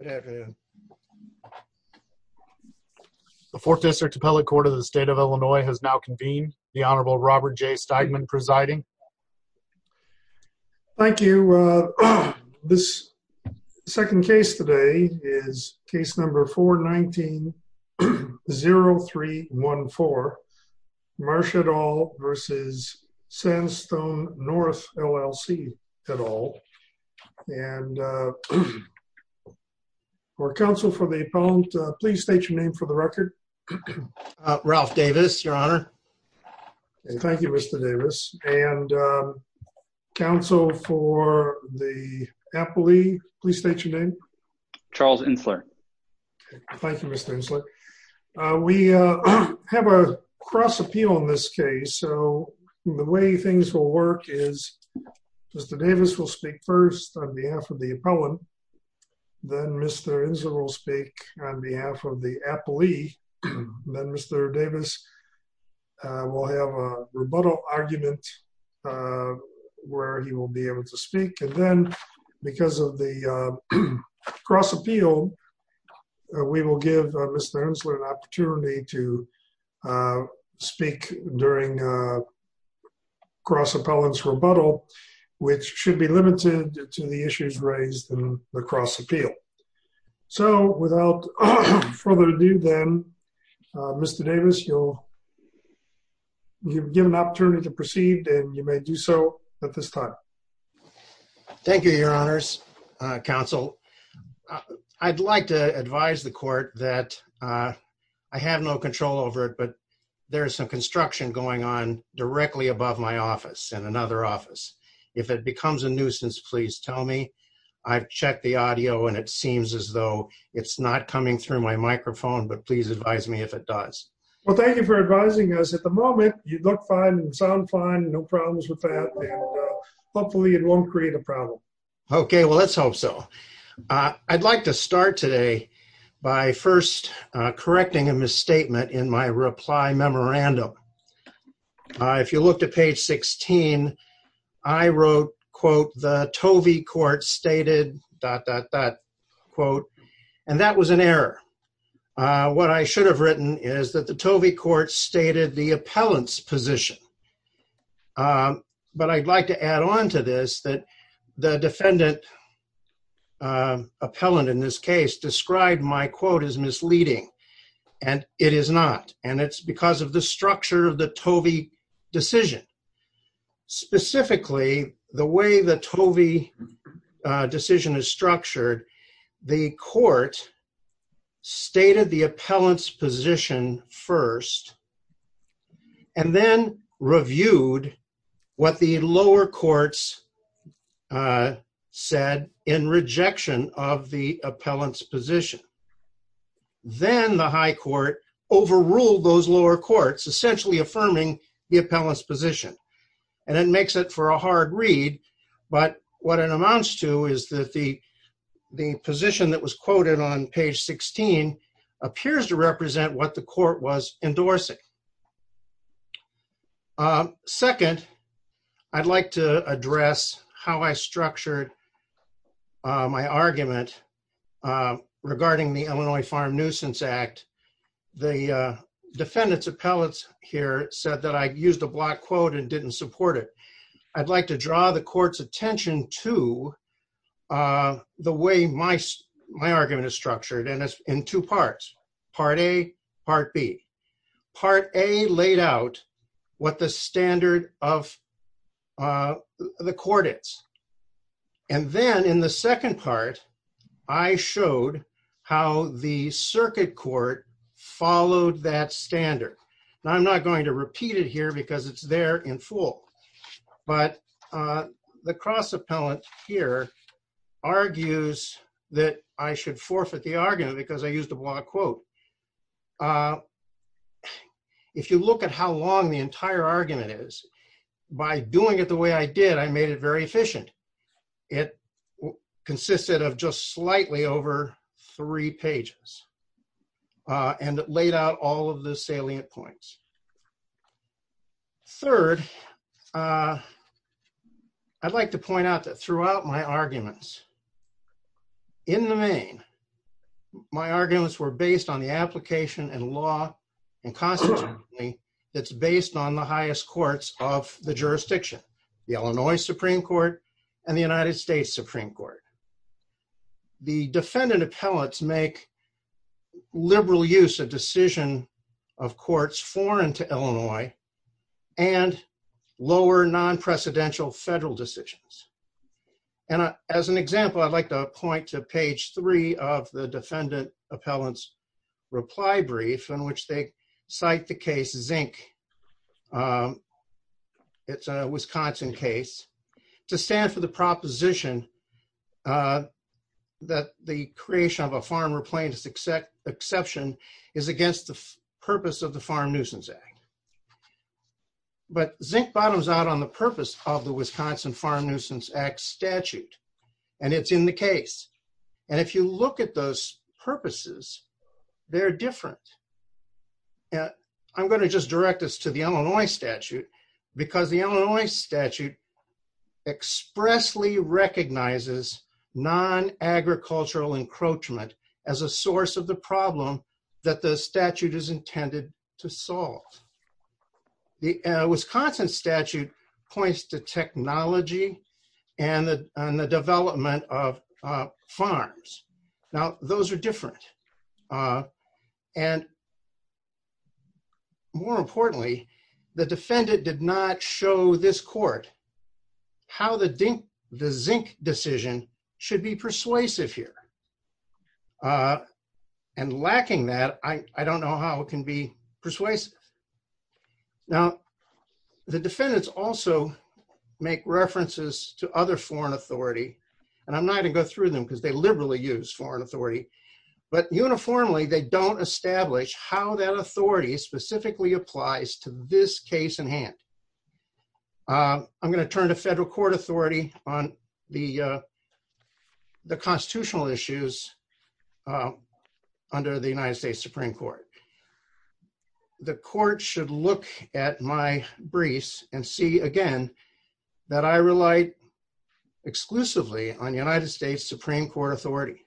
The Fourth District Appellate Court of the State of Illinois has now convened, the Honorable Robert J. Steigman presiding. Thank you. This second case today is case number 419-0314, Marsha et al. versus Sandstone North, LLC et al. And for counsel for the appellant, please state your name for the record. Ralph Davis, Your Honor. Thank you, Mr. Davis. And counsel for the appellee, please state your name. Charles Insler. Thank you, Mr. Insler. We have a cross appeal in this case. So the way things will work is Mr. Davis will speak first on behalf of the appellant. Then Mr. Insler will speak on behalf of the appellee. Then Mr. Davis will have a rebuttal argument where he will be able to speak. And then because of the cross appeal, we will give Mr. Insler an opportunity to speak during cross appellant's rebuttal. Which should be limited to the issues raised in the cross appeal. So without further ado then, Mr. Davis, you're given an opportunity to proceed and you may do so at this time. Thank you, Your Honors. Counsel, I'd like to advise the court that I have no control over it, there's some construction going on directly above my office and another office. If it becomes a nuisance, please tell me. I've checked the audio and it seems as though it's not coming through my microphone, but please advise me if it does. Well, thank you for advising us. At the moment, you look fine and sound fine. No problems with that. Hopefully it won't create a problem. Okay, well, let's hope so. I'd like to start today by first correcting a misstatement in my reply memorandum. If you look to page 16, I wrote, quote, the Tovey court stated, dot, dot, dot, quote, and that was an error. What I should have written is that the Tovey court stated the appellant's position. But I'd like to add on to this that the defendant, appellant in this case, described my quote as misleading, and it is not. And it's because of the structure of the Tovey decision. Specifically, the way the Tovey decision is structured, the court stated the appellant's position first and then reviewed what the lower courts said in rejection of the position. Then the high court overruled those lower courts, essentially affirming the appellant's position. And it makes it for a hard read, but what it amounts to is that the position that was quoted on page 16 appears to represent what the court was endorsing. Second, I'd like to regarding the Illinois Farm Nuisance Act, the defendant's appellants here said that I used a black quote and didn't support it. I'd like to draw the court's attention to the way my argument is structured, and it's in two parts, part A, part B. Part A laid out what the standard of the court is. And then in the second part, I showed how the circuit court followed that standard. Now, I'm not going to repeat it here because it's there in full, but the cross appellant here argues that I should forfeit the argument because I used a black quote. If you look at how long the entire argument is, by doing it the way I did, I made it very efficient. It consisted of just slightly over three pages and laid out all of the salient points. Third, I'd like to point out that throughout my arguments, in the main, my arguments were based on the application and law and constitutionally that's based on the highest courts of the jurisdiction, the Illinois Supreme Court and the United States Supreme Court. The defendant appellants make liberal use of decision of courts foreign to the court. For example, I'd like to point to page three of the defendant appellants reply brief in which they cite the case Zink. It's a Wisconsin case to stand for the proposition that the creation of a farm replacement exception is against the purpose of the Farm Nuisance Act. But Zink bottoms out on the purpose of the Wisconsin Farm Nuisance Act statute. And it's in the case. And if you look at those purposes, they're different. I'm going to just direct us to the Illinois statute, because the Illinois statute expressly recognizes non agricultural encroachment as a source of the problem that the statute is intended to solve. The Wisconsin statute points to technology and the development of farms. Now those are different. And more importantly, the defendant did not show this court how the Zink decision should be persuasive here. And lacking that I don't know how it can be persuasive. Now, the defendants also make references to other foreign authority. And I'm not going to go through them because they liberally use foreign authority. But uniformly, they don't establish how that authority specifically applies to this case in hand. I'm going to turn to federal court authority on the the constitutional issues under the United States Supreme Court. The court should look at my briefs and see again, that I relied exclusively on United States Supreme Court authority.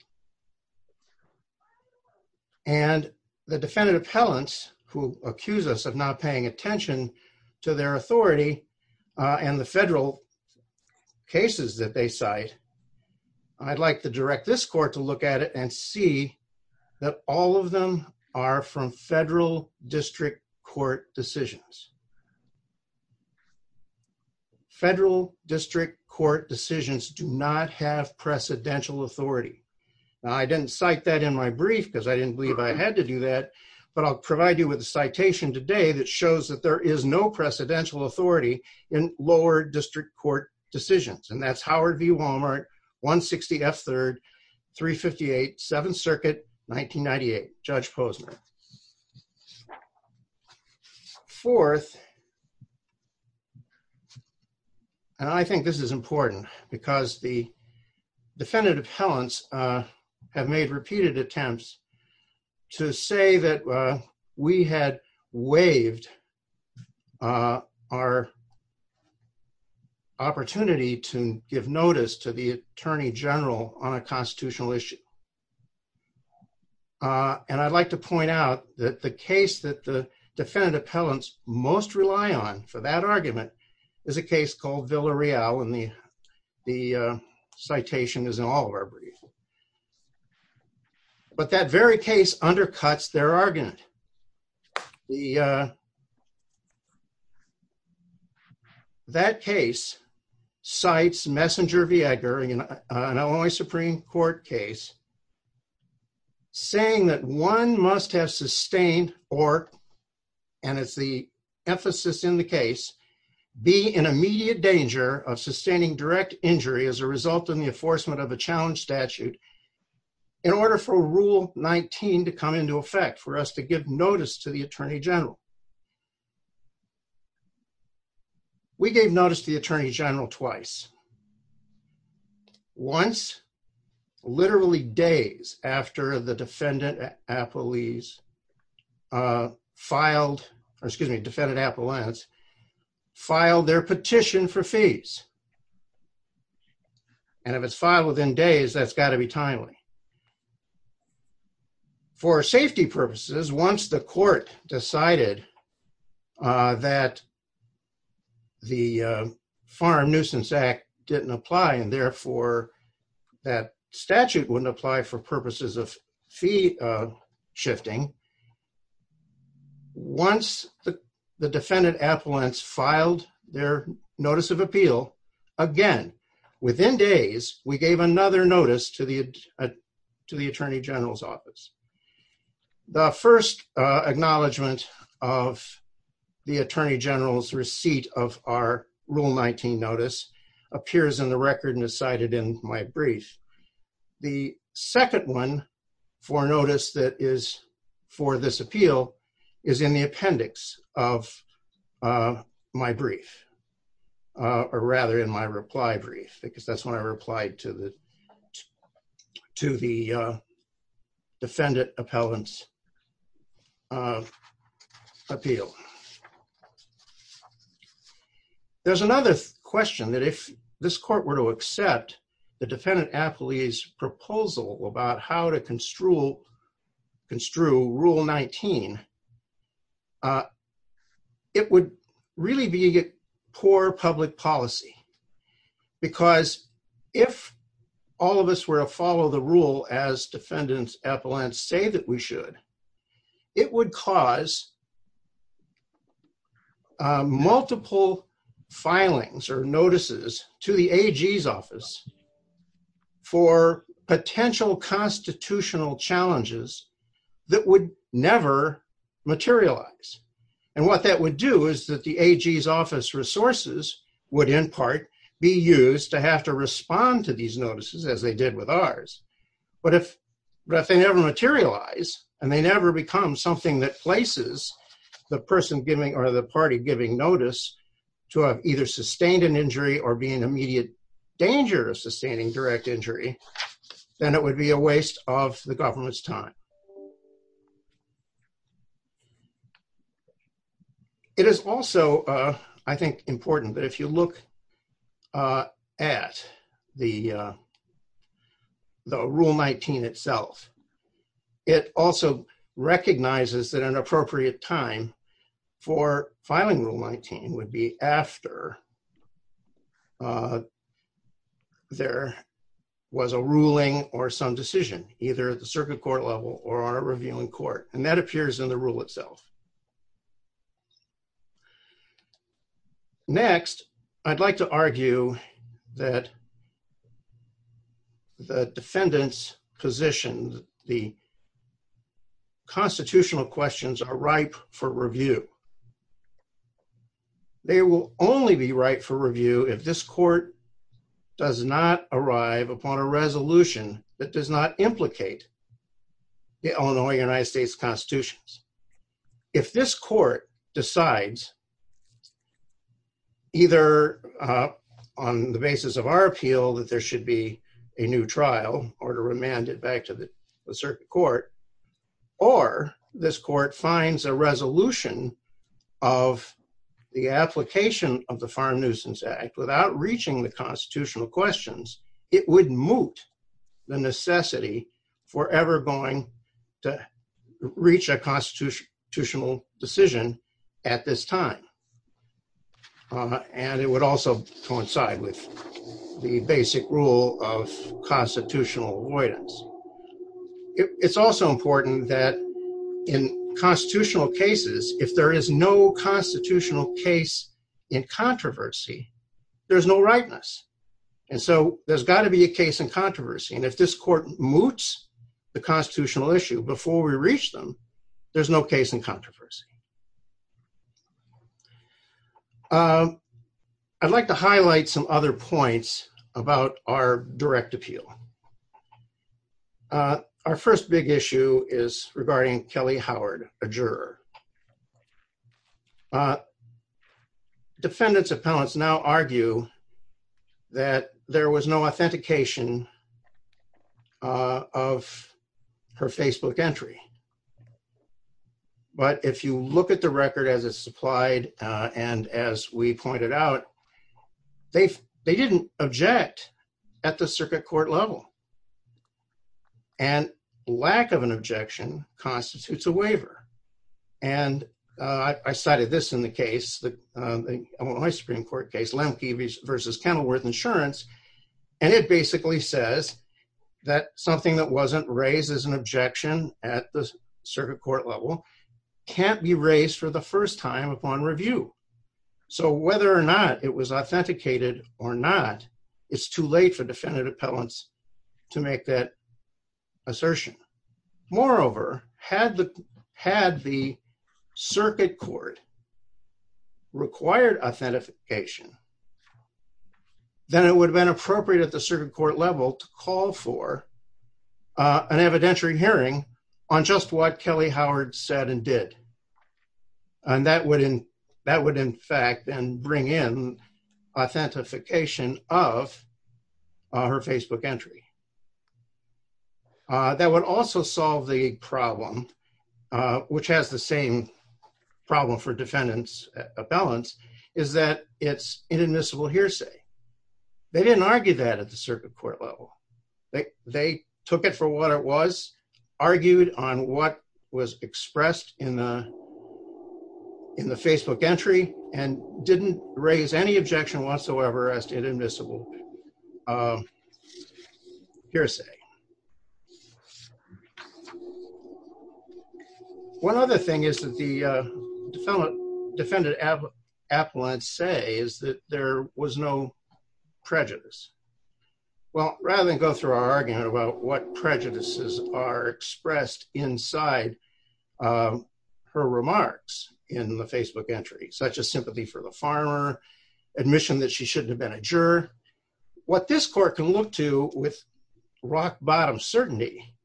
And the defendant appellants who accuse us of not paying attention to their authority, and the federal cases that they cite, I'd like to direct this court to look at it and see that all of them are from federal district court decisions. Federal district court decisions do not have precedential authority. I didn't cite that in my brief because I didn't believe I had to do that. But I'll provide you with a citation today that shows that there is no precedential authority in lower district court decisions. And that's F3, 358, Seventh Circuit, 1998, Judge Posner. Fourth, and I think this is important, because the defendant appellants have made repeated attempts to say that we had waived our opportunity to give notice to the Attorney General on a constitutional issue. And I'd like to point out that the case that the defendant appellants most rely on for that very case undercuts their argument. That case cites Messenger-Viega, an Illinois Supreme Court case, saying that one must have sustained or, and it's the emphasis in the case, be in immediate danger of sustaining direct injury as a result of the enforcement of a challenge statute in order for Rule 19 to come into effect, for us to give notice to the Attorney General. We gave notice to the Attorney General twice. Once, literally days after the defendant appellees filed, or excuse me, defendant appellants filed their petition for fees. And if it's filed within days, that's got to be timely. For safety purposes, once the court decided that the Farm Nuisance Act didn't apply, and therefore that statute wouldn't apply for purposes of fee shifting, once the defendant appellants filed their notice of appeal, again, within days, we gave another notice to the to the Attorney General's office. The first acknowledgement of the Attorney General's receipt of our Rule 19 notice appears in the record and is cited in my brief. The second one for notice that is for this appeal is in the appendix of my brief, or rather in my reply brief, because that's when I replied to the to the defendant appellants appeal. So, there's another question that if this court were to accept the defendant appellee's proposal about how to construe rule 19, it would really be a poor public policy. Because if all of us were to follow the rule as defendant appellants say that we should, it would cause multiple filings or notices to the AG's office for potential constitutional challenges that would never materialize. And what that would do is that the AG's office resources would, in part, be used to have to respond to these notices as they did with ours. But if they never materialize and they never become something that places the person giving or the party giving notice to have either sustained an injury or be in immediate danger of sustaining direct injury, then it would be a waste of the government's time. It is also, I think, important that if you look at the rule 19 itself, it also recognizes that an appropriate time for filing rule 19 would be after there was a ruling or some decision either at the circuit court level or on a revealing court and that appears in the rule itself. Next, I'd like to argue that the defendant's position, the constitutional questions are ripe for review. They will only be ripe for review if this court does not arrive upon a resolution that does not implicate the Illinois United States Constitution. If this court decides either on the basis of our appeal that there should be a new trial or to remand it back to the circuit court or this court finds a resolution of the application of the Farm Nuisance Act without reaching the constitutional questions, it would moot the necessity for ever going to reach a constitutional decision at this time. And it would also coincide with the basic rule of constitutional avoidance. It's also important that in constitutional cases, if there is no constitutional case in controversy, there's no rightness. And so there's got to be a case in controversy and if this court moots the constitutional issue before we reach them, there's no case in controversy. I'd like to highlight some other points about our direct appeal. Our first big issue is regarding Kelly Howard, a juror. Defendants' appellants now argue that there was no authentication of her Facebook entry. But if you look at the record as it's supplied, and as we pointed out, they didn't object at the circuit court level. And lack of an objection constitutes a waiver. And I cited this in the case, my Supreme Court case, Lemke v. Kenilworth Insurance, and it basically says that something that wasn't raised as an objection at the circuit court level can't be raised for the first time upon review. So whether or not it was authenticated or not, it's too late for defendant appellants to make that assertion. Moreover, had the circuit court required authentication, then it would have been appropriate at the circuit court level to call for an evidentiary hearing on just what Kelly Howard said and did. And that would in fact then bring in authentication of her Facebook entry. That would also solve the problem, which has the same problem for defendants appellants, is that it's inadmissible hearsay. They didn't argue that at the circuit court level. They took it for what it was, argued on what was expressed in the Facebook entry, and didn't raise any objection whatsoever as to inadmissible hearsay. One other thing is that the defendant defendant appellant say is that there was no prejudice. Well, rather than go through our argument about what prejudices are expressed inside her remarks in the Facebook entry, such as sympathy for the farmer, admission that she shouldn't have been a juror, what this court can look to with rock-bottom certainty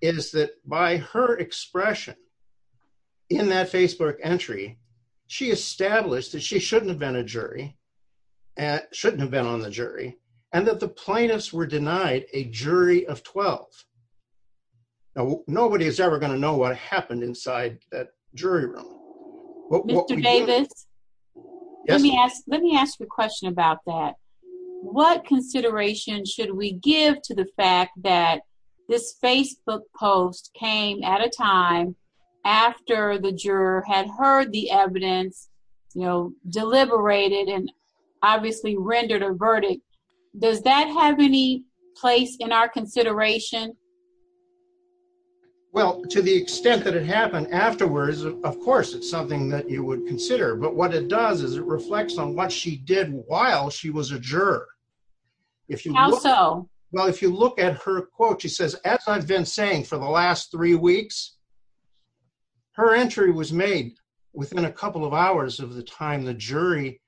is that by her expression in that Facebook entry, she established that she shouldn't have been a jury, and shouldn't have been on the jury, and that the plaintiffs were denied a jury of 12. Now, nobody is ever going to know what happened inside that jury room. Mr. Davis, let me ask, let me ask you a question about that. What consideration should we give to the fact that this Facebook post came at a time after the juror had heard the evidence, you know, deliberated, and obviously rendered a verdict. Does that have any place in our consideration? Well, to the extent that it happened afterwards, of course, it's something that you would consider. But what it does is it reflects on what she did while she was a juror. How so? Well, if you look at her quote, she says, as I've been saying for the last three weeks, her entry was made within a couple of hours of the time the jury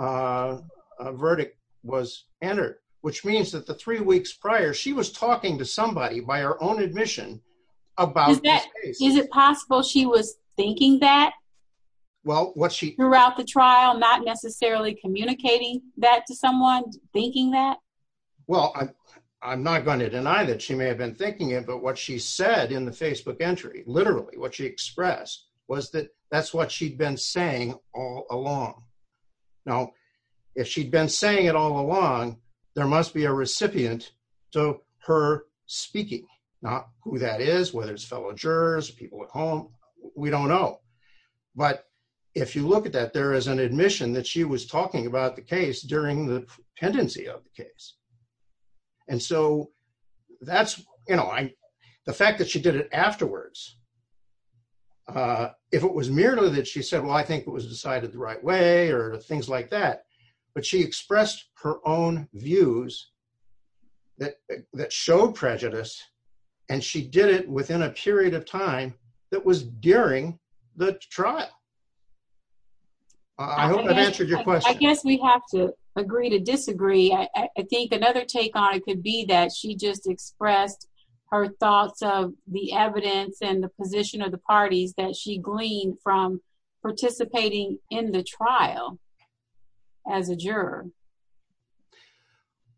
verdict was entered, which means that the three weeks prior, she was talking to somebody by her own admission about this case. Is it possible she was thinking that? Throughout the trial, not necessarily communicating that to someone, thinking that? Well, I'm not going to deny that she may have been thinking it, but what she said in the Facebook entry, literally what she expressed, was that that's what she'd been saying all along. Now, if she'd been saying it all along, there must be a recipient to her speaking. Not who that is, whether it's fellow jurors, people at home, we don't know. But if you look at that, there is an admission that she was talking about the case during the tendency of the case. And so that's, you know, the fact that she did it afterwards, if it was merely that she said, well, I think it was decided the right way or things like that, but she expressed her own views that showed prejudice and she did it within a period of time that was during the trial. I hope that answered your question. I guess we have to agree to disagree. I think another take on it could be that she just expressed her thoughts of the evidence and the position of the parties that she gleaned from participating in the trial as a juror.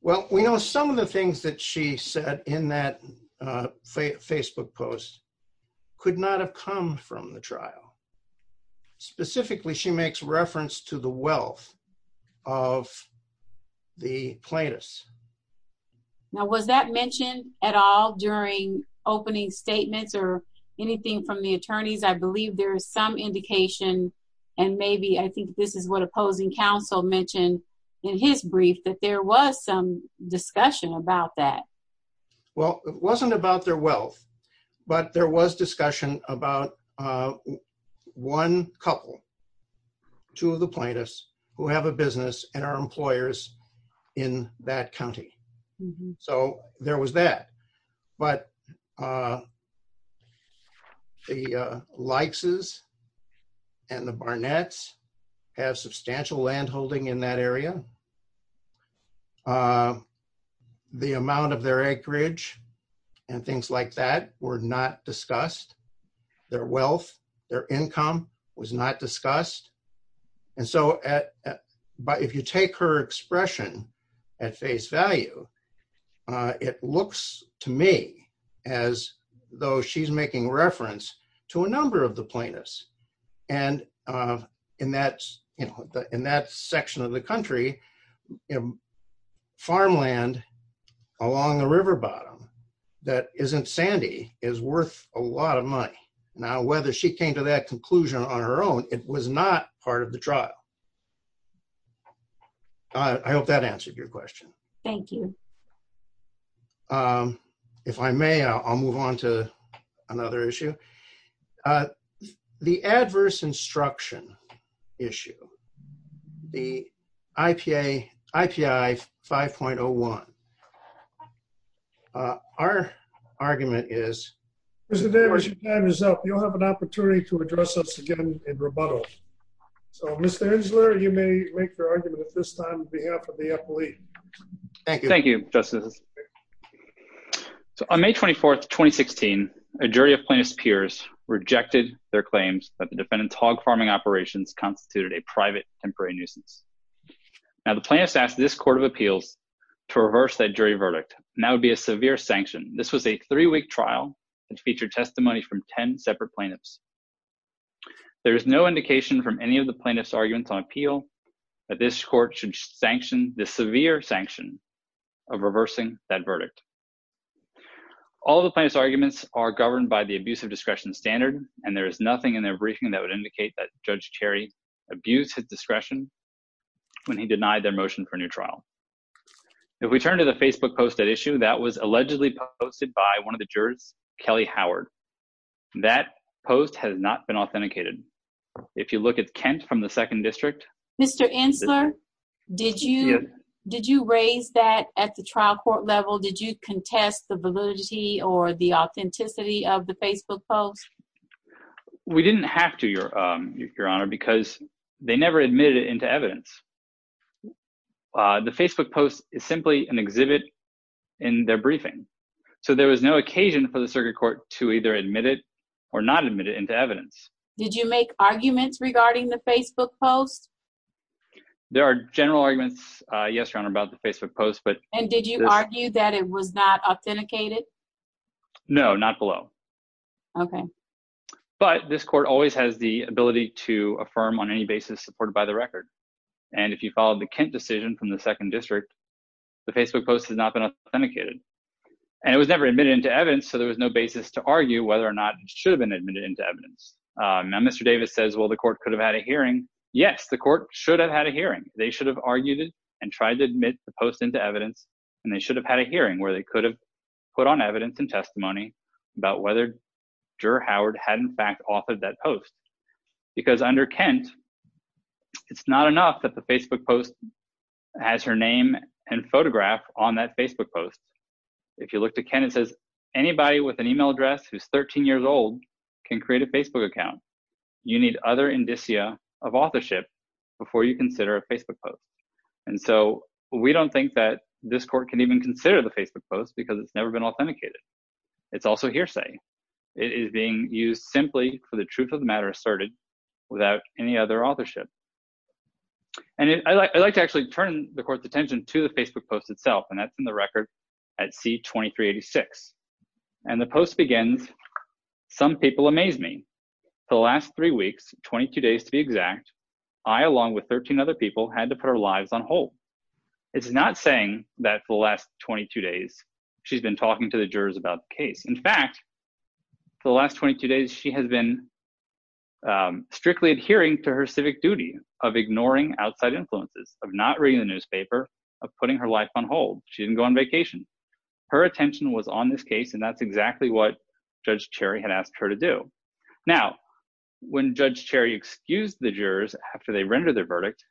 Well, we know some of the things that she said in that Facebook post could not have come from the trial. Specifically, she makes reference to the wealth of the plaintiffs. Now, was that mentioned at all during opening statements or anything from the attorneys? I believe there is some indication and maybe, I think this is what opposing counsel mentioned in his brief, that there was some discussion about that. Well, it wasn't about their wealth but there was discussion about one couple, two of the plaintiffs, who have a business and are employers in that county. So there was that, but the Likes and the Barnetts have substantial land holding in that area, and the amount of their acreage and things like that were not discussed. Their wealth, their income was not discussed. And so, if you take her expression at face value, it looks to me as though she's making reference to a number of the plaintiffs. And in that section of the country, farmland along the river bottom that isn't sandy is worth a lot of money. Now, whether she came to that conclusion on her own, it was not part of the trial. I hope that answered your question. Thank you. If I may, I'll move on to another issue. The adverse instruction issue. The IPA, IPI 5.01. Our argument is, Mr. Davis, your time is up. You'll have an opportunity to address us again in rebuttal. So, Mr. Insler, you may make your argument at this time on behalf of the FLE. Thank you. Thank you, Justice. So, on May 24th, 2016, a jury of plaintiff's peers rejected their claims that the defendant's hog farming operations constituted a private temporary nuisance. Now, the plaintiffs asked this court of appeals to reverse that jury verdict, and that would be a severe sanction. This was a three-week trial that featured testimony from 10 separate plaintiffs. There is no indication from any of the plaintiffs' arguments on appeal that this court should sanction the severe sanction of reversing that verdict. All of the plaintiff's arguments are governed by the abuse of discretion standard, and there is nothing in their briefing that would indicate that Judge Cherry abused his discretion when he denied their motion for a new trial. If we turn to the Facebook post at issue, that was allegedly posted by one of the jurors, Kelly Howard. That post has not been authenticated. If you look at Kent from the Second District. Mr. Insler, did you raise that at the trial court level? Did you contest the validity or the authenticity of the Facebook post? We didn't have to, Your Honor, because they never admitted it into evidence. The Facebook post is simply an exhibit in their briefing. So, there was no occasion for the circuit court to either admit it or not admit it into evidence. Did you make arguments regarding the Facebook post? There are general arguments, yes, Your Honor, about the Facebook post. And did you argue that it was not authenticated? No, not below. Okay. But this court always has the ability to affirm on any basis supported by the record. And if you followed the Kent decision from the Second District, the Facebook post has not been authenticated. And it was never admitted into evidence, so there was no basis to argue whether or not it should have been admitted into evidence. Now, Mr. Davis says, well, the court could have had a hearing. Yes, the court should have had a hearing. They should have argued it and tried to admit the post into evidence, and they should have had a hearing where they could have put on evidence and testimony about whether Drew Howard had, in fact, authored that post. Because under Kent, it's not enough that the Facebook post has her name and photograph on that Facebook post. If you look to Kent, it says anybody with an email address who's 13 years old can create a Facebook account. You need other indicia of authorship before you consider a Facebook post. And so we don't think that this court can even consider the Facebook post because it's never been authenticated. It's also hearsay. It is being used simply for the truth of the matter asserted without any other authorship. And I'd like to actually turn the court's attention to the Facebook post itself, and that's in the record at C-2386. And the post begins, Some people amaze me. For the last three weeks, 22 days to be exact, I, along with 13 other people, had to put our lives on hold. It's not saying that for the last 22 days, she's been talking to the jurors about the case. In fact, for the last 22 days, she has been strictly adhering to her civic duty of ignoring outside influences, of not reading the newspaper, of putting her life on hold. She didn't go on vacation. Her attention was on this case and that's exactly what Judge Cherry had asked her to do. Now, when Judge Cherry excused the jurors after they rendered their verdict,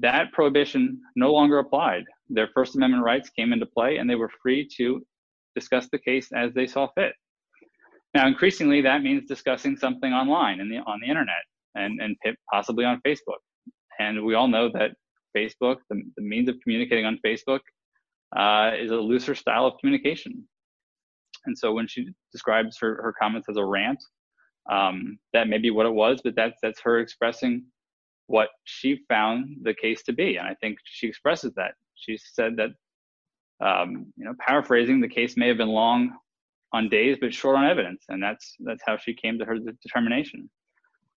that prohibition no longer applied. Their First Amendment rights came into play and they were free to discuss the case as they saw fit. Now, increasingly, that means discussing something online, on the internet, and possibly on Facebook. And we all know that Facebook, the means of communicating on Facebook, is a looser style of communication. And so when she describes her comments as a rant, that may be what it was, but that's her expressing what she found the case to be, and I think she expresses that. She said that, you know, paraphrasing, the case may have been long on days, but short on evidence, and that's that's how she came to her determination.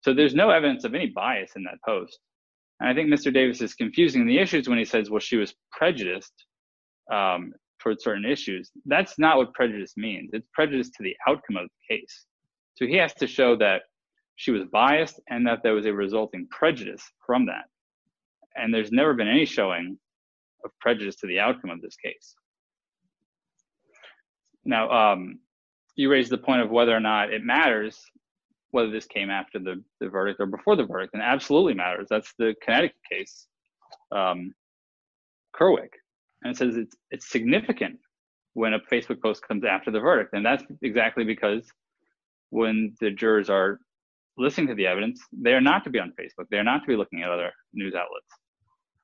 So there's no evidence of any bias in that post. And I think Mr. Davis is confusing the issues when he says, well, she was prejudiced toward certain issues. That's not what prejudice means. It's prejudice to the outcome of the case. So he has to show that she was biased and that there was a resulting prejudice from that. And there's never been any showing of prejudice to the outcome of this case. Now, you raise the point of whether or not it matters, whether this came after the verdict or before the verdict, and it absolutely matters. That's the kinetic case. Kerwick, and it says it's significant when a Facebook post comes after the verdict, and that's exactly because when the jurors are listening to the evidence, they are not to be on Facebook. They're not to be looking at other news outlets.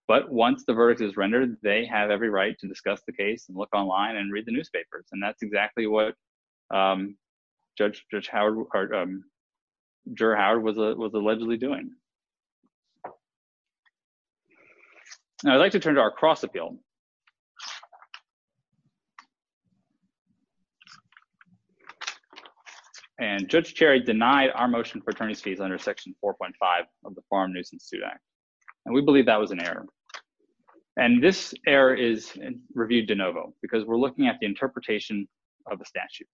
But once the verdict is rendered, they have every right to discuss the case and look online and read the newspapers. And that's exactly what Judge Howard, Juror Howard was allegedly doing. Now, I'd like to turn to our cross appeal. And Judge Cherry denied our motion for attorney's fees under section 4.5 of the Foreign Nuisance Suit Act. And we believe that was an error. And this error is reviewed de novo because we're looking at the interpretation of the statute.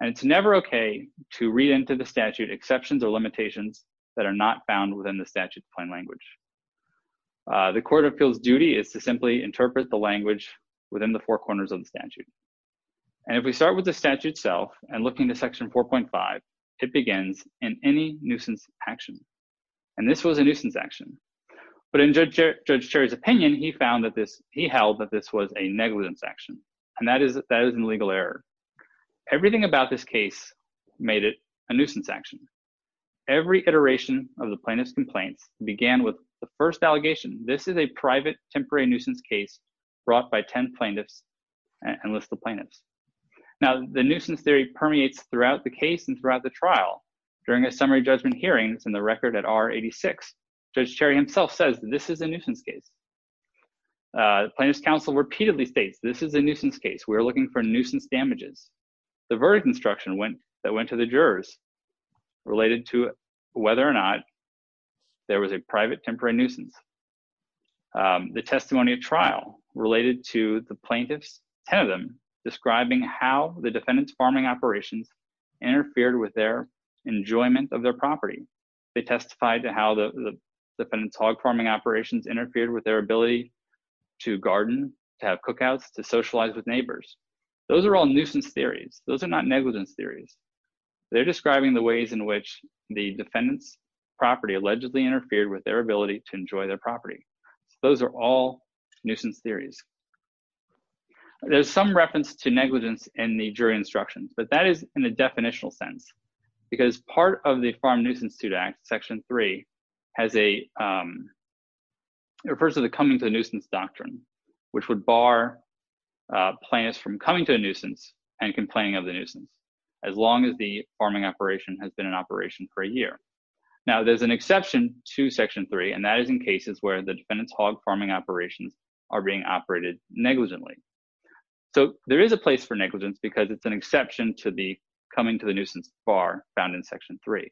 And it's never okay to read into the statute exceptions or limitations that are not found within the statute's plain language. The court appeals duty is to simply interpret the language within the four corners of the statute. And if we start with the statute itself and look into section 4.5, it begins in any nuisance action. And this was a nuisance action. But in Judge Cherry's opinion, he found that this, he held that this was a negligence action. And that is, that is an illegal error. Everything about this case made it a nuisance action. Every iteration of the plaintiff's complaints began with the first allegation. This is a private temporary nuisance case brought by 10 plaintiffs and list of plaintiffs. Now the nuisance theory permeates throughout the case and throughout the trial during a summary judgment hearings in the record at R-86. Judge Cherry himself says this is a nuisance case. The plaintiff's counsel repeatedly states this is a nuisance case. We're looking for nuisance damages. The verdict instruction that went to the jurors related to whether or not there was a private temporary nuisance. The testimony of trial related to the plaintiffs, 10 of them, describing how the defendant's farming operations interfered with their enjoyment of their property. They testified to how the defendant's hog farming operations interfered with their ability to garden, to have cookouts, to socialize with neighbors. Those are all nuisance theories. Those are not negligence theories. They're describing the ways in which the defendant's property allegedly interfered with their ability to enjoy their property. Those are all nuisance theories. There's some reference to negligence in the jury instructions, but that is in a definitional sense because part of the Farm Nuisance Act, section three, has a refers to the coming to a nuisance doctrine which would bar plaintiffs from coming to a nuisance and complaining of the nuisance, as long as the farming operation has been an operation for a year. Now there's an exception to section three and that is in cases where the defendant's hog farming operations are being operated negligently. So there is a place for negligence because it's an exception to the coming to the nuisance bar found in section three.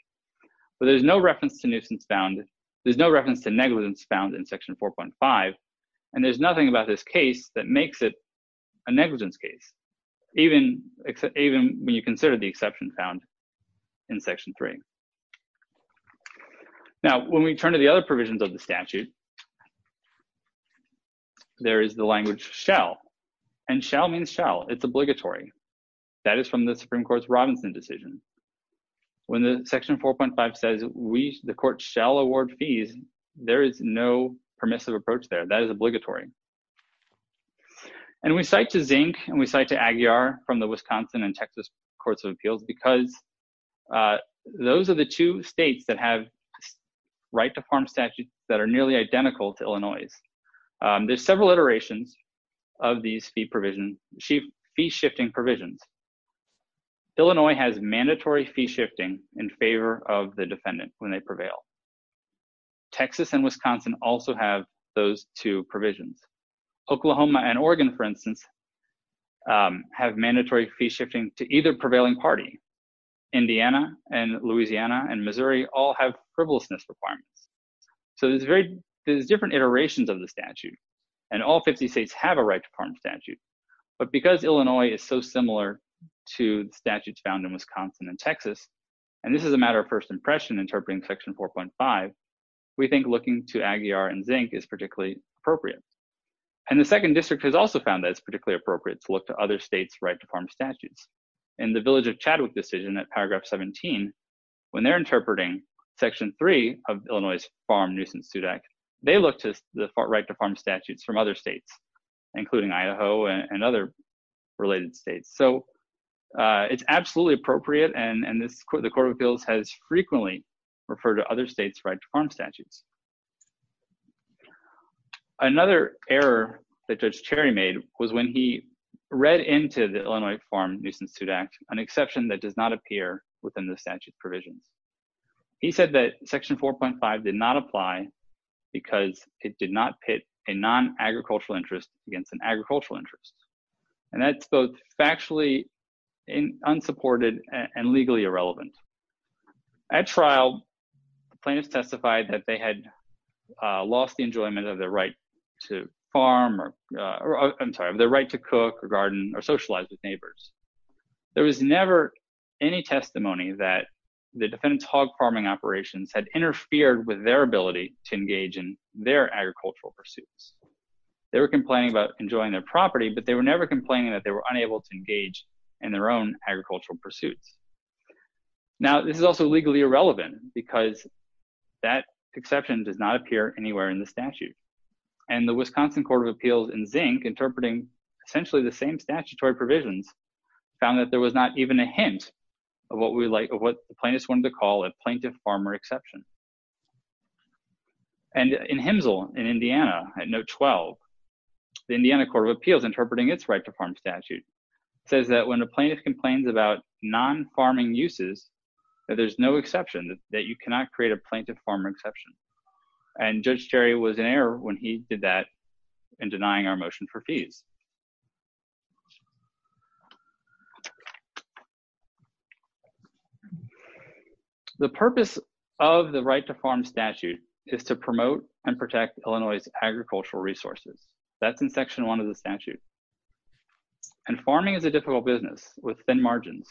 But there's no reference to nuisance found, there's no reference to negligence found in section 4.5 And there's nothing about this case that makes it a negligence case, even when you consider the exception found in section three. Now, when we turn to the other provisions of the statute. There is the language shall and shall means shall. It's obligatory. That is from the Supreme Court's Robinson decision. When the section 4.5 says we, the court, shall award fees, there is no permissive approach there. That is obligatory. And we cite to Zink and we cite to Aguiar from the Wisconsin and Texas Courts of Appeals because those are the two states that have right to farm statutes that are nearly identical to Illinois'. There's several iterations of these fee provision, fee shifting provisions. Illinois has mandatory fee shifting in favor of the defendant when they prevail. Texas and Wisconsin also have those two provisions. Oklahoma and Oregon, for instance, have mandatory fee shifting to either prevailing party. Indiana and Louisiana and Missouri all have frivolousness requirements. So there's very, there's different iterations of the statute and all 50 states have a right to farm statute. But because Illinois is so similar to the statutes found in Wisconsin and Texas, and this is a matter of first impression interpreting section 4.5, we think looking to Aguiar and Zink is particularly appropriate. And the second district has also found that it's particularly appropriate to look to other states' right to farm statutes. In the Village of Chadwick decision at paragraph 17, when they're interpreting section 3 of Illinois' farm nuisance suit act, they look to the right to farm statutes from other states, including Idaho and other related states. So it's absolutely appropriate and the court of appeals has frequently referred to other states' right to farm statutes. Another error that Judge Cherry made was when he read into the Illinois farm nuisance suit act an exception that does not appear within the statute provisions. He said that section 4.5 did not apply because it did not pit a non-agricultural interest against an agricultural interest. And that's both factually unsupported and legally irrelevant. At trial, plaintiffs testified that they had lost the enjoyment of their right to farm or, I'm sorry, of their right to cook or garden or socialize with neighbors. There was never any testimony that the defendant's hog farming operations had interfered with their ability to engage in their agricultural pursuits. They were complaining about enjoying their property, but they were never complaining that they were unable to engage in their own agricultural pursuits. Now, this is also legally irrelevant because that exception does not appear anywhere in the statute. And the Wisconsin Court of Appeals in Zink, interpreting essentially the same statutory provisions, found that there was not even a hint of what the plaintiffs wanted to call a plaintiff farmer exception. And in HMSL in Indiana, at note 12, the Indiana Court of Appeals, interpreting its right to farm statute, says that when a plaintiff complains about non-farming uses, that there's no exception, that you cannot create a plaintiff farmer exception. And Judge Cherry was in error when he did that in denying our motion for fees. The purpose of the right to farm statute is to promote and protect Illinois' agricultural resources. That's in section one of the statute. And farming is a difficult business with thin margins.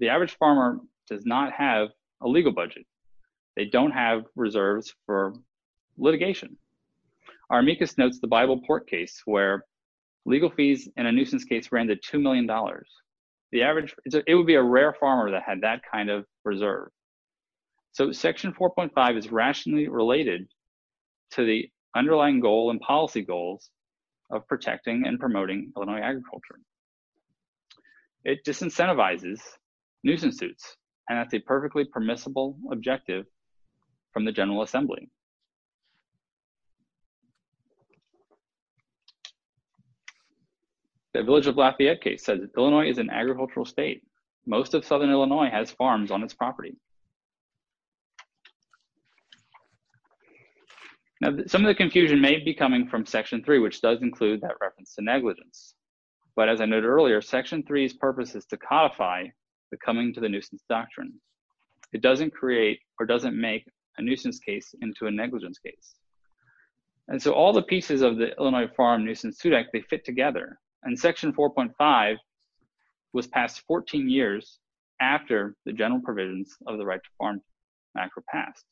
The average farmer does not have a legal budget. They don't have reserves for litigation. legal budget is not an issue. Legal fees in a nuisance case ran to two million dollars. The average, it would be a rare farmer that had that kind of reserve. So section 4.5 is rationally related to the underlying goal and policy goals of protecting and promoting Illinois agriculture. It disincentivizes nuisance suits, and that's a perfectly permissible objective from the General Assembly. The Village of Lafayette case says that Illinois is an agricultural state. Most of southern Illinois has farms on its property. Now some of the confusion may be coming from section 3, which does include that reference to negligence. But as I noted earlier, section 3's purpose is to codify the coming to the nuisance doctrine. It doesn't create or doesn't make a nuisance case into a negligence case. And so all the pieces of the Illinois Farm Nuisance Sued Act, they fit together. And section 4.5 was passed 14 years after the general provisions of the Right to Farm Act were passed.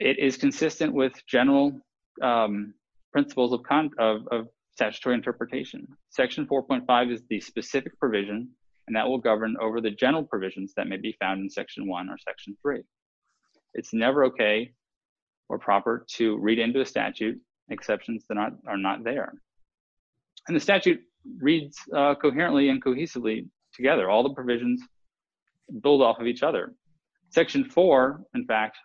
It is consistent with general principles of statutory interpretation. Section 4.5 is the specific provision and that will govern over the general provisions that may be found in section 1 or section 3. It's never okay or proper to read into a statute exceptions that are not there. And the statute reads coherently and cohesively together. All the provisions build off of each other. Section 4, in fact,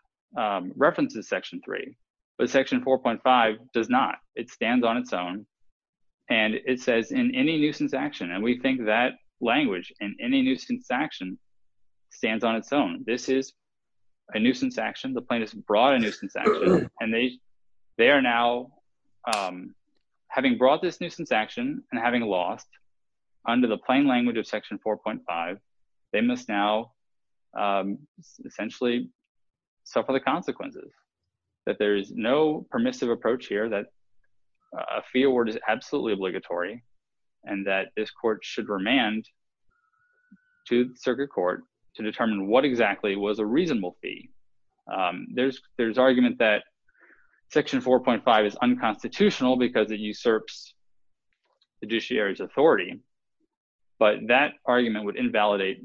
references section 3, but section 4.5 does not. It stands on its own. And it says, in any nuisance action, and we think that language, in any nuisance action, stands on its own. This is a nuisance action. The plaintiff's brought a nuisance action and they they are now, having brought this nuisance action and having lost under the plain language of section 4.5, they must now essentially suffer the consequences. That there is no permissive approach here, that a fee award is absolutely obligatory and that this court should remand to the circuit court to determine what exactly was a reasonable fee. There's argument that section 4.5 is unconstitutional because it usurps fiduciary's authority, but that argument would invalidate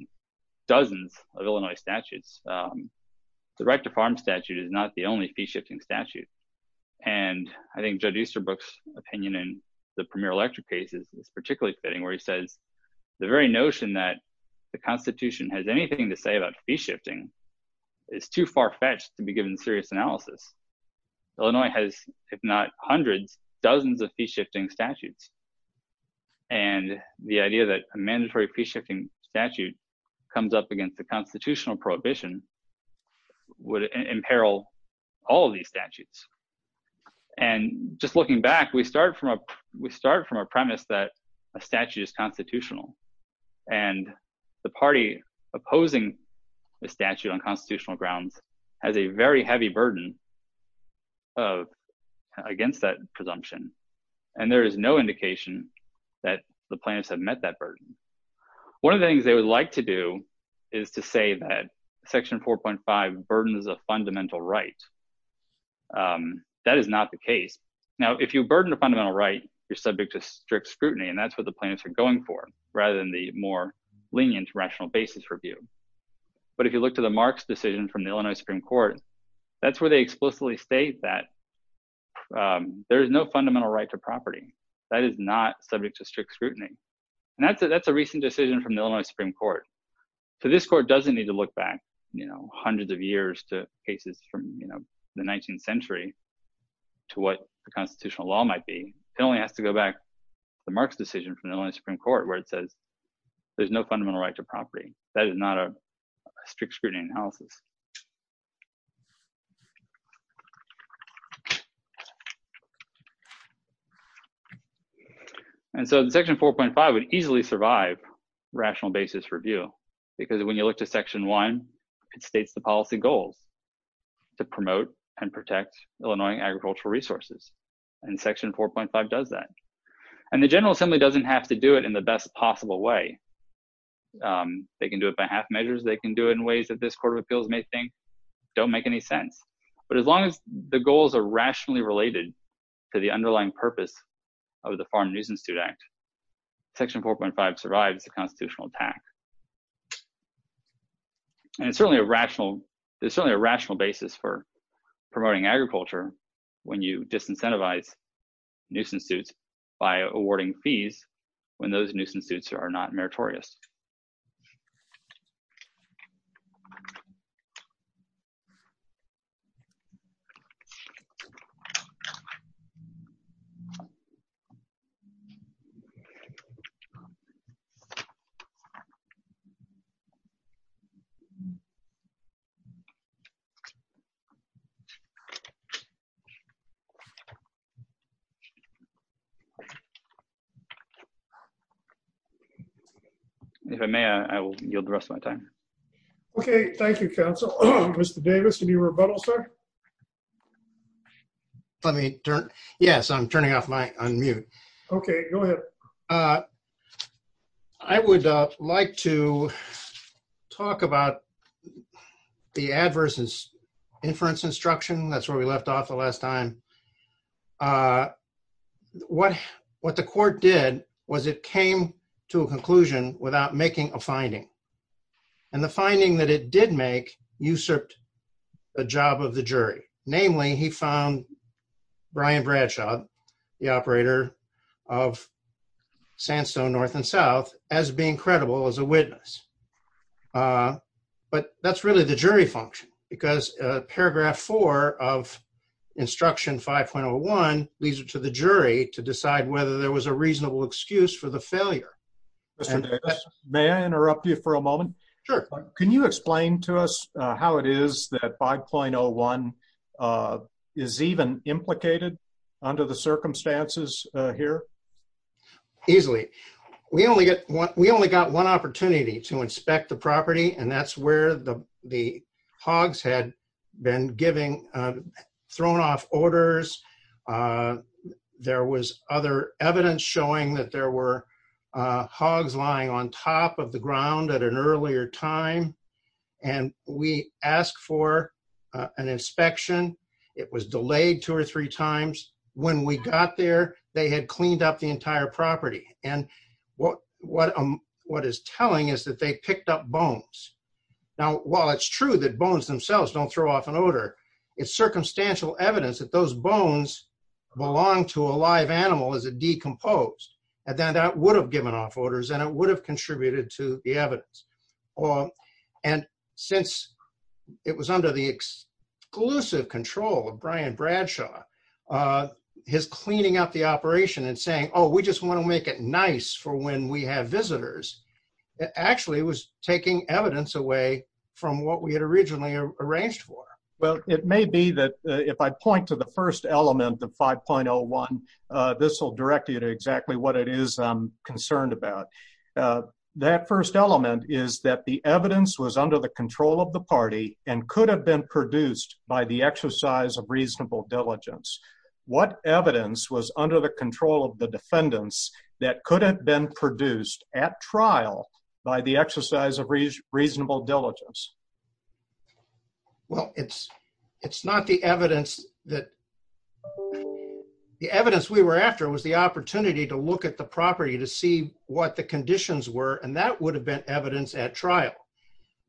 dozens of Illinois statutes. The right to farm statute is not the only fee shifting statute. And I think Judge Easterbrook's opinion in the Premier Electric case is particularly fitting where he says the very notion that the Constitution has anything to say about fee shifting is too far-fetched to be given serious analysis. Illinois has, if not hundreds, dozens of fee shifting statutes. And the idea that a mandatory fee shifting statute comes up against the constitutional prohibition would imperil all these statutes. And just looking back, we start from a premise that a statute is constitutional. And the party opposing the statute on constitutional grounds has a very heavy burden against that presumption. And there is no indication that the plaintiffs have met that burden. One of the things they would like to do is to say that section 4.5 burdens a fundamental right. That is not the case. Now, if you burden a fundamental right, you're subject to strict scrutiny, and that's what the plaintiffs are going for, rather than the more lenient rational basis review. But if you look to the Marks decision from the Illinois Supreme Court, that's where they explicitly state that there is no fundamental right to property. That is not subject to strict scrutiny. And that's a recent decision from the Illinois Supreme Court. So this court doesn't need to look back, you know, hundreds of years to cases from, you know, the 19th century to what the constitutional law might be. It only has to go back to the Marks decision from the Illinois Supreme Court where it says there's no fundamental right to property. That is not a strict scrutiny analysis. And so the section 4.5 would easily survive rational basis review, because when you look to section 1, it states the policy goals to promote and protect Illinois agricultural resources. And section 4.5 does that. And the General Assembly doesn't have to do it in the best possible way. They can do it by half measures. They can do it in ways that this Court of Appeals may think don't make any sense. But as long as the goals are rationally related to the underlying purpose of the Farm Nuisance Suit Act, section 4.5 survives the constitutional attack. And it's certainly a rational, there's certainly a rational basis for promoting agriculture when you disincentivize nuisance suits by awarding fees when those nuisance suits are not meritorious. Thank you. If I may, I will yield the rest of my time. Okay, thank you, counsel. Mr. Davis, can you rebuttal, sir? Let me turn, yes, I'm turning off my unmute. Okay, go ahead. I would like to talk about the adverse inference instruction. That's where we left off the last time. What the court did was it came to a conclusion without making a finding. And the finding that it did make usurped the job of the jury. Namely, he found Brian Bradshaw, the operator of Sandstone North and South, as being credible as a witness. But that's really the jury function because paragraph 4 of Instruction 5.01 leads it to the jury to decide whether there was a reasonable excuse for the failure. Mr. Davis, may I interrupt you for a moment? Sure. Can you explain to us how it is that 5.01 is even implicated under the circumstances here? Easily. We only got one opportunity to inspect the property and that's where the hogs had been giving thrown off orders. There was other evidence showing that there were hogs lying on top of the ground at an earlier time. And we asked for an inspection. It was delayed two or three times. When we got there, they had cleaned up the entire property. And what is telling is that they picked up bones. Now, while it's true that bones themselves don't throw off an order, it's circumstantial evidence that those bones belong to a live animal as it decomposed. And then that would have given off orders and it would have contributed to the evidence. And since it was under the exclusive control of Brian Bradshaw, his cleaning up the operation and saying, oh, we just want to make it nice for when we have visitors. It actually was taking evidence away from what we had originally arranged for. Well, it may be that if I point to the first element of 5.01, this will direct you to exactly what it is I'm concerned about. That first element is that the evidence was under the control of the party and could have been produced by the exercise of reasonable diligence. What evidence was under the control of the defendants that could have been produced at trial by the exercise of reasonable diligence? Well, it's not the evidence that the evidence we were after was the opportunity to look at the property to see what the conditions were and that would have been evidence at trial.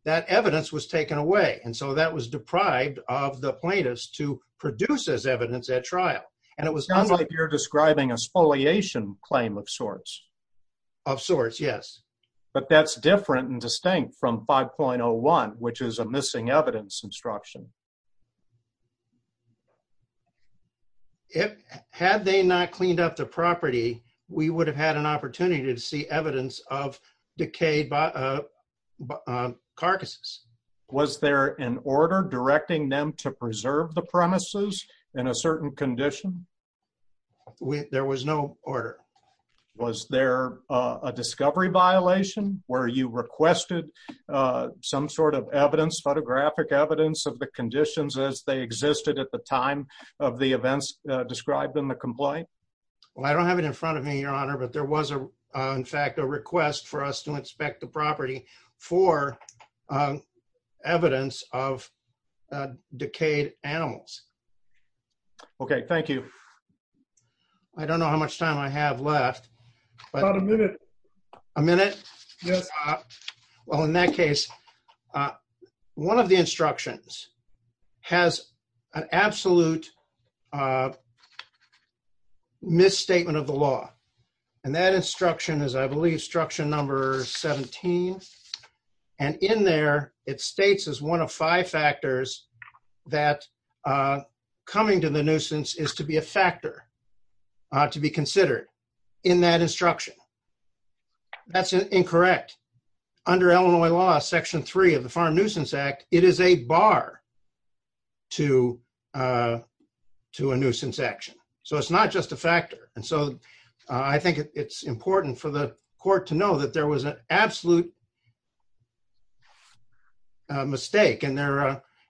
That evidence was taken away. And so that was deprived of the plaintiffs to produce as evidence at trial. It sounds like you're describing a spoliation claim of sorts. Of sorts, yes. But that's different and distinct from 5.01, which is a missing evidence instruction. Had they not cleaned up the property, we would have had an opportunity to see evidence of decayed carcasses. Was there an order directing them to preserve the premises in a certain condition? There was no order. Was there a discovery violation where you requested some sort of photographic evidence of the conditions as they existed at the time of the events described in the complaint? Well, I don't have it in front of me, Your Honor, but there was in fact a request for us to inspect the property for evidence of decayed animals. Okay, thank you. I don't know how much time I have left. About a minute. A minute? Well, in that case, one of the instructions has an absolute misstatement of the law. And that instruction is, I believe, instruction number 17. And in there, it states as one of five factors that coming to the nuisance is to be a factor to be considered in that instruction. That's incorrect. Under Illinois law, section three of the Farm Nuisance Act, it is a bar to a nuisance action. So it's not just a factor. And so it's a mistake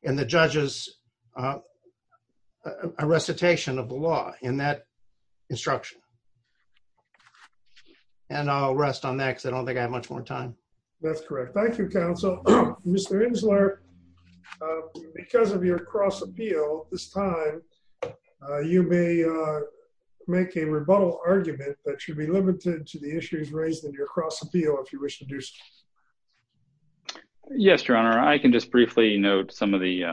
in the judge's recitation of the law in that instruction. And I'll rest on that because I don't think I have much more time. That's correct. Thank you, counsel. Mr. Insler, because of your cross appeal this time, you may make a rebuttal argument that should be limited to the issues raised in your cross appeal if you wish to do so. Yes, Your Honor. I can just briefly note some of the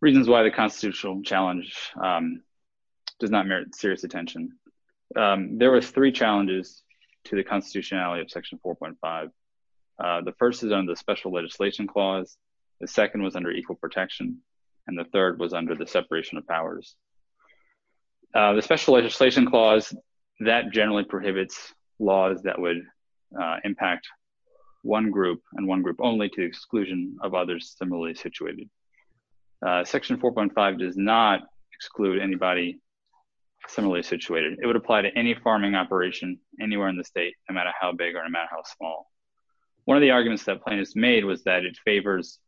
reasons why the constitutional challenge does not merit serious attention. There was three challenges to the constitutionality of section 4.5. The first is under the special legislation clause. The second was under equal protection, and the third was under the separation of powers. The special legislation clause, that generally prohibits laws that would impact one group and one group only to exclusion of others similarly situated. Section 4.5 does not exclude anybody similarly situated. It would apply to any farming operation anywhere in the state, no matter how big or no matter how small. One of the arguments that plaintiffs made was that it favors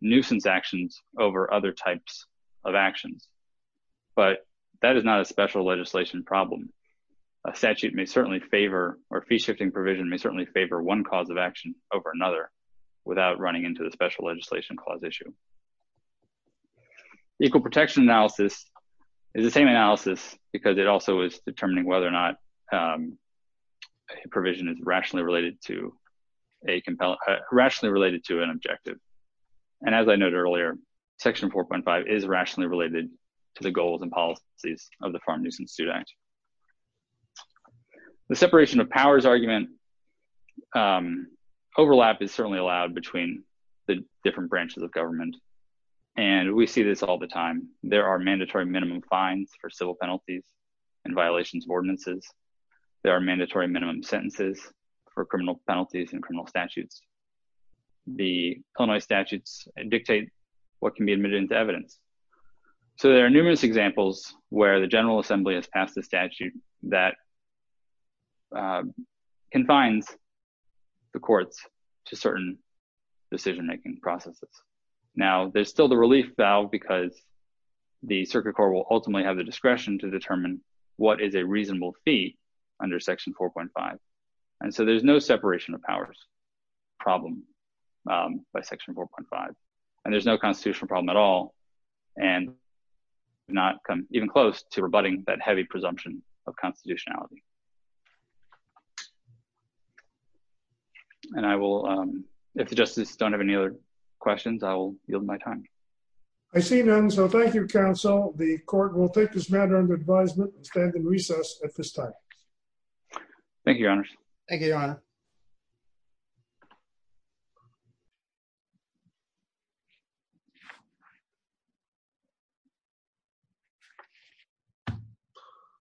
nuisance actions over other types of actions. But that is not a special legislation problem. A statute may certainly favor or fee shifting provision may certainly favor one cause of action over another without running into the special legislation clause issue. Equal protection analysis is the same analysis because it also is determining whether or not provision is rationally related to a compelling, rationally related to an objective. And as I noted earlier, section 4.5 is rationally related to the goals and policies of the Farm Nuisance Student Act. The separation of powers argument overlap is certainly allowed between the different branches of government. And we see this all the time. There are mandatory minimum fines for civil penalties and violations of ordinances. There are mandatory minimum sentences for criminal penalties and criminal statutes. The Illinois statutes dictate what can be admitted into evidence. So there are numerous examples where the General Assembly has passed a statute that confines the courts to certain decision-making processes. Now, there's still the relief valve because the Circuit Court will ultimately have the discretion to determine what is a reasonable fee under section 4.5. And so there's no separation of powers problem by section 4.5. And there's no constitutional problem at all. And not come even close to rebutting that heavy presumption of constitutionality. And I will, if the Justices don't have any other questions, I will yield my time. I see none. So thank you, Counsel. The Court will take this matter under advisement and stand in recess at this time. Thank you.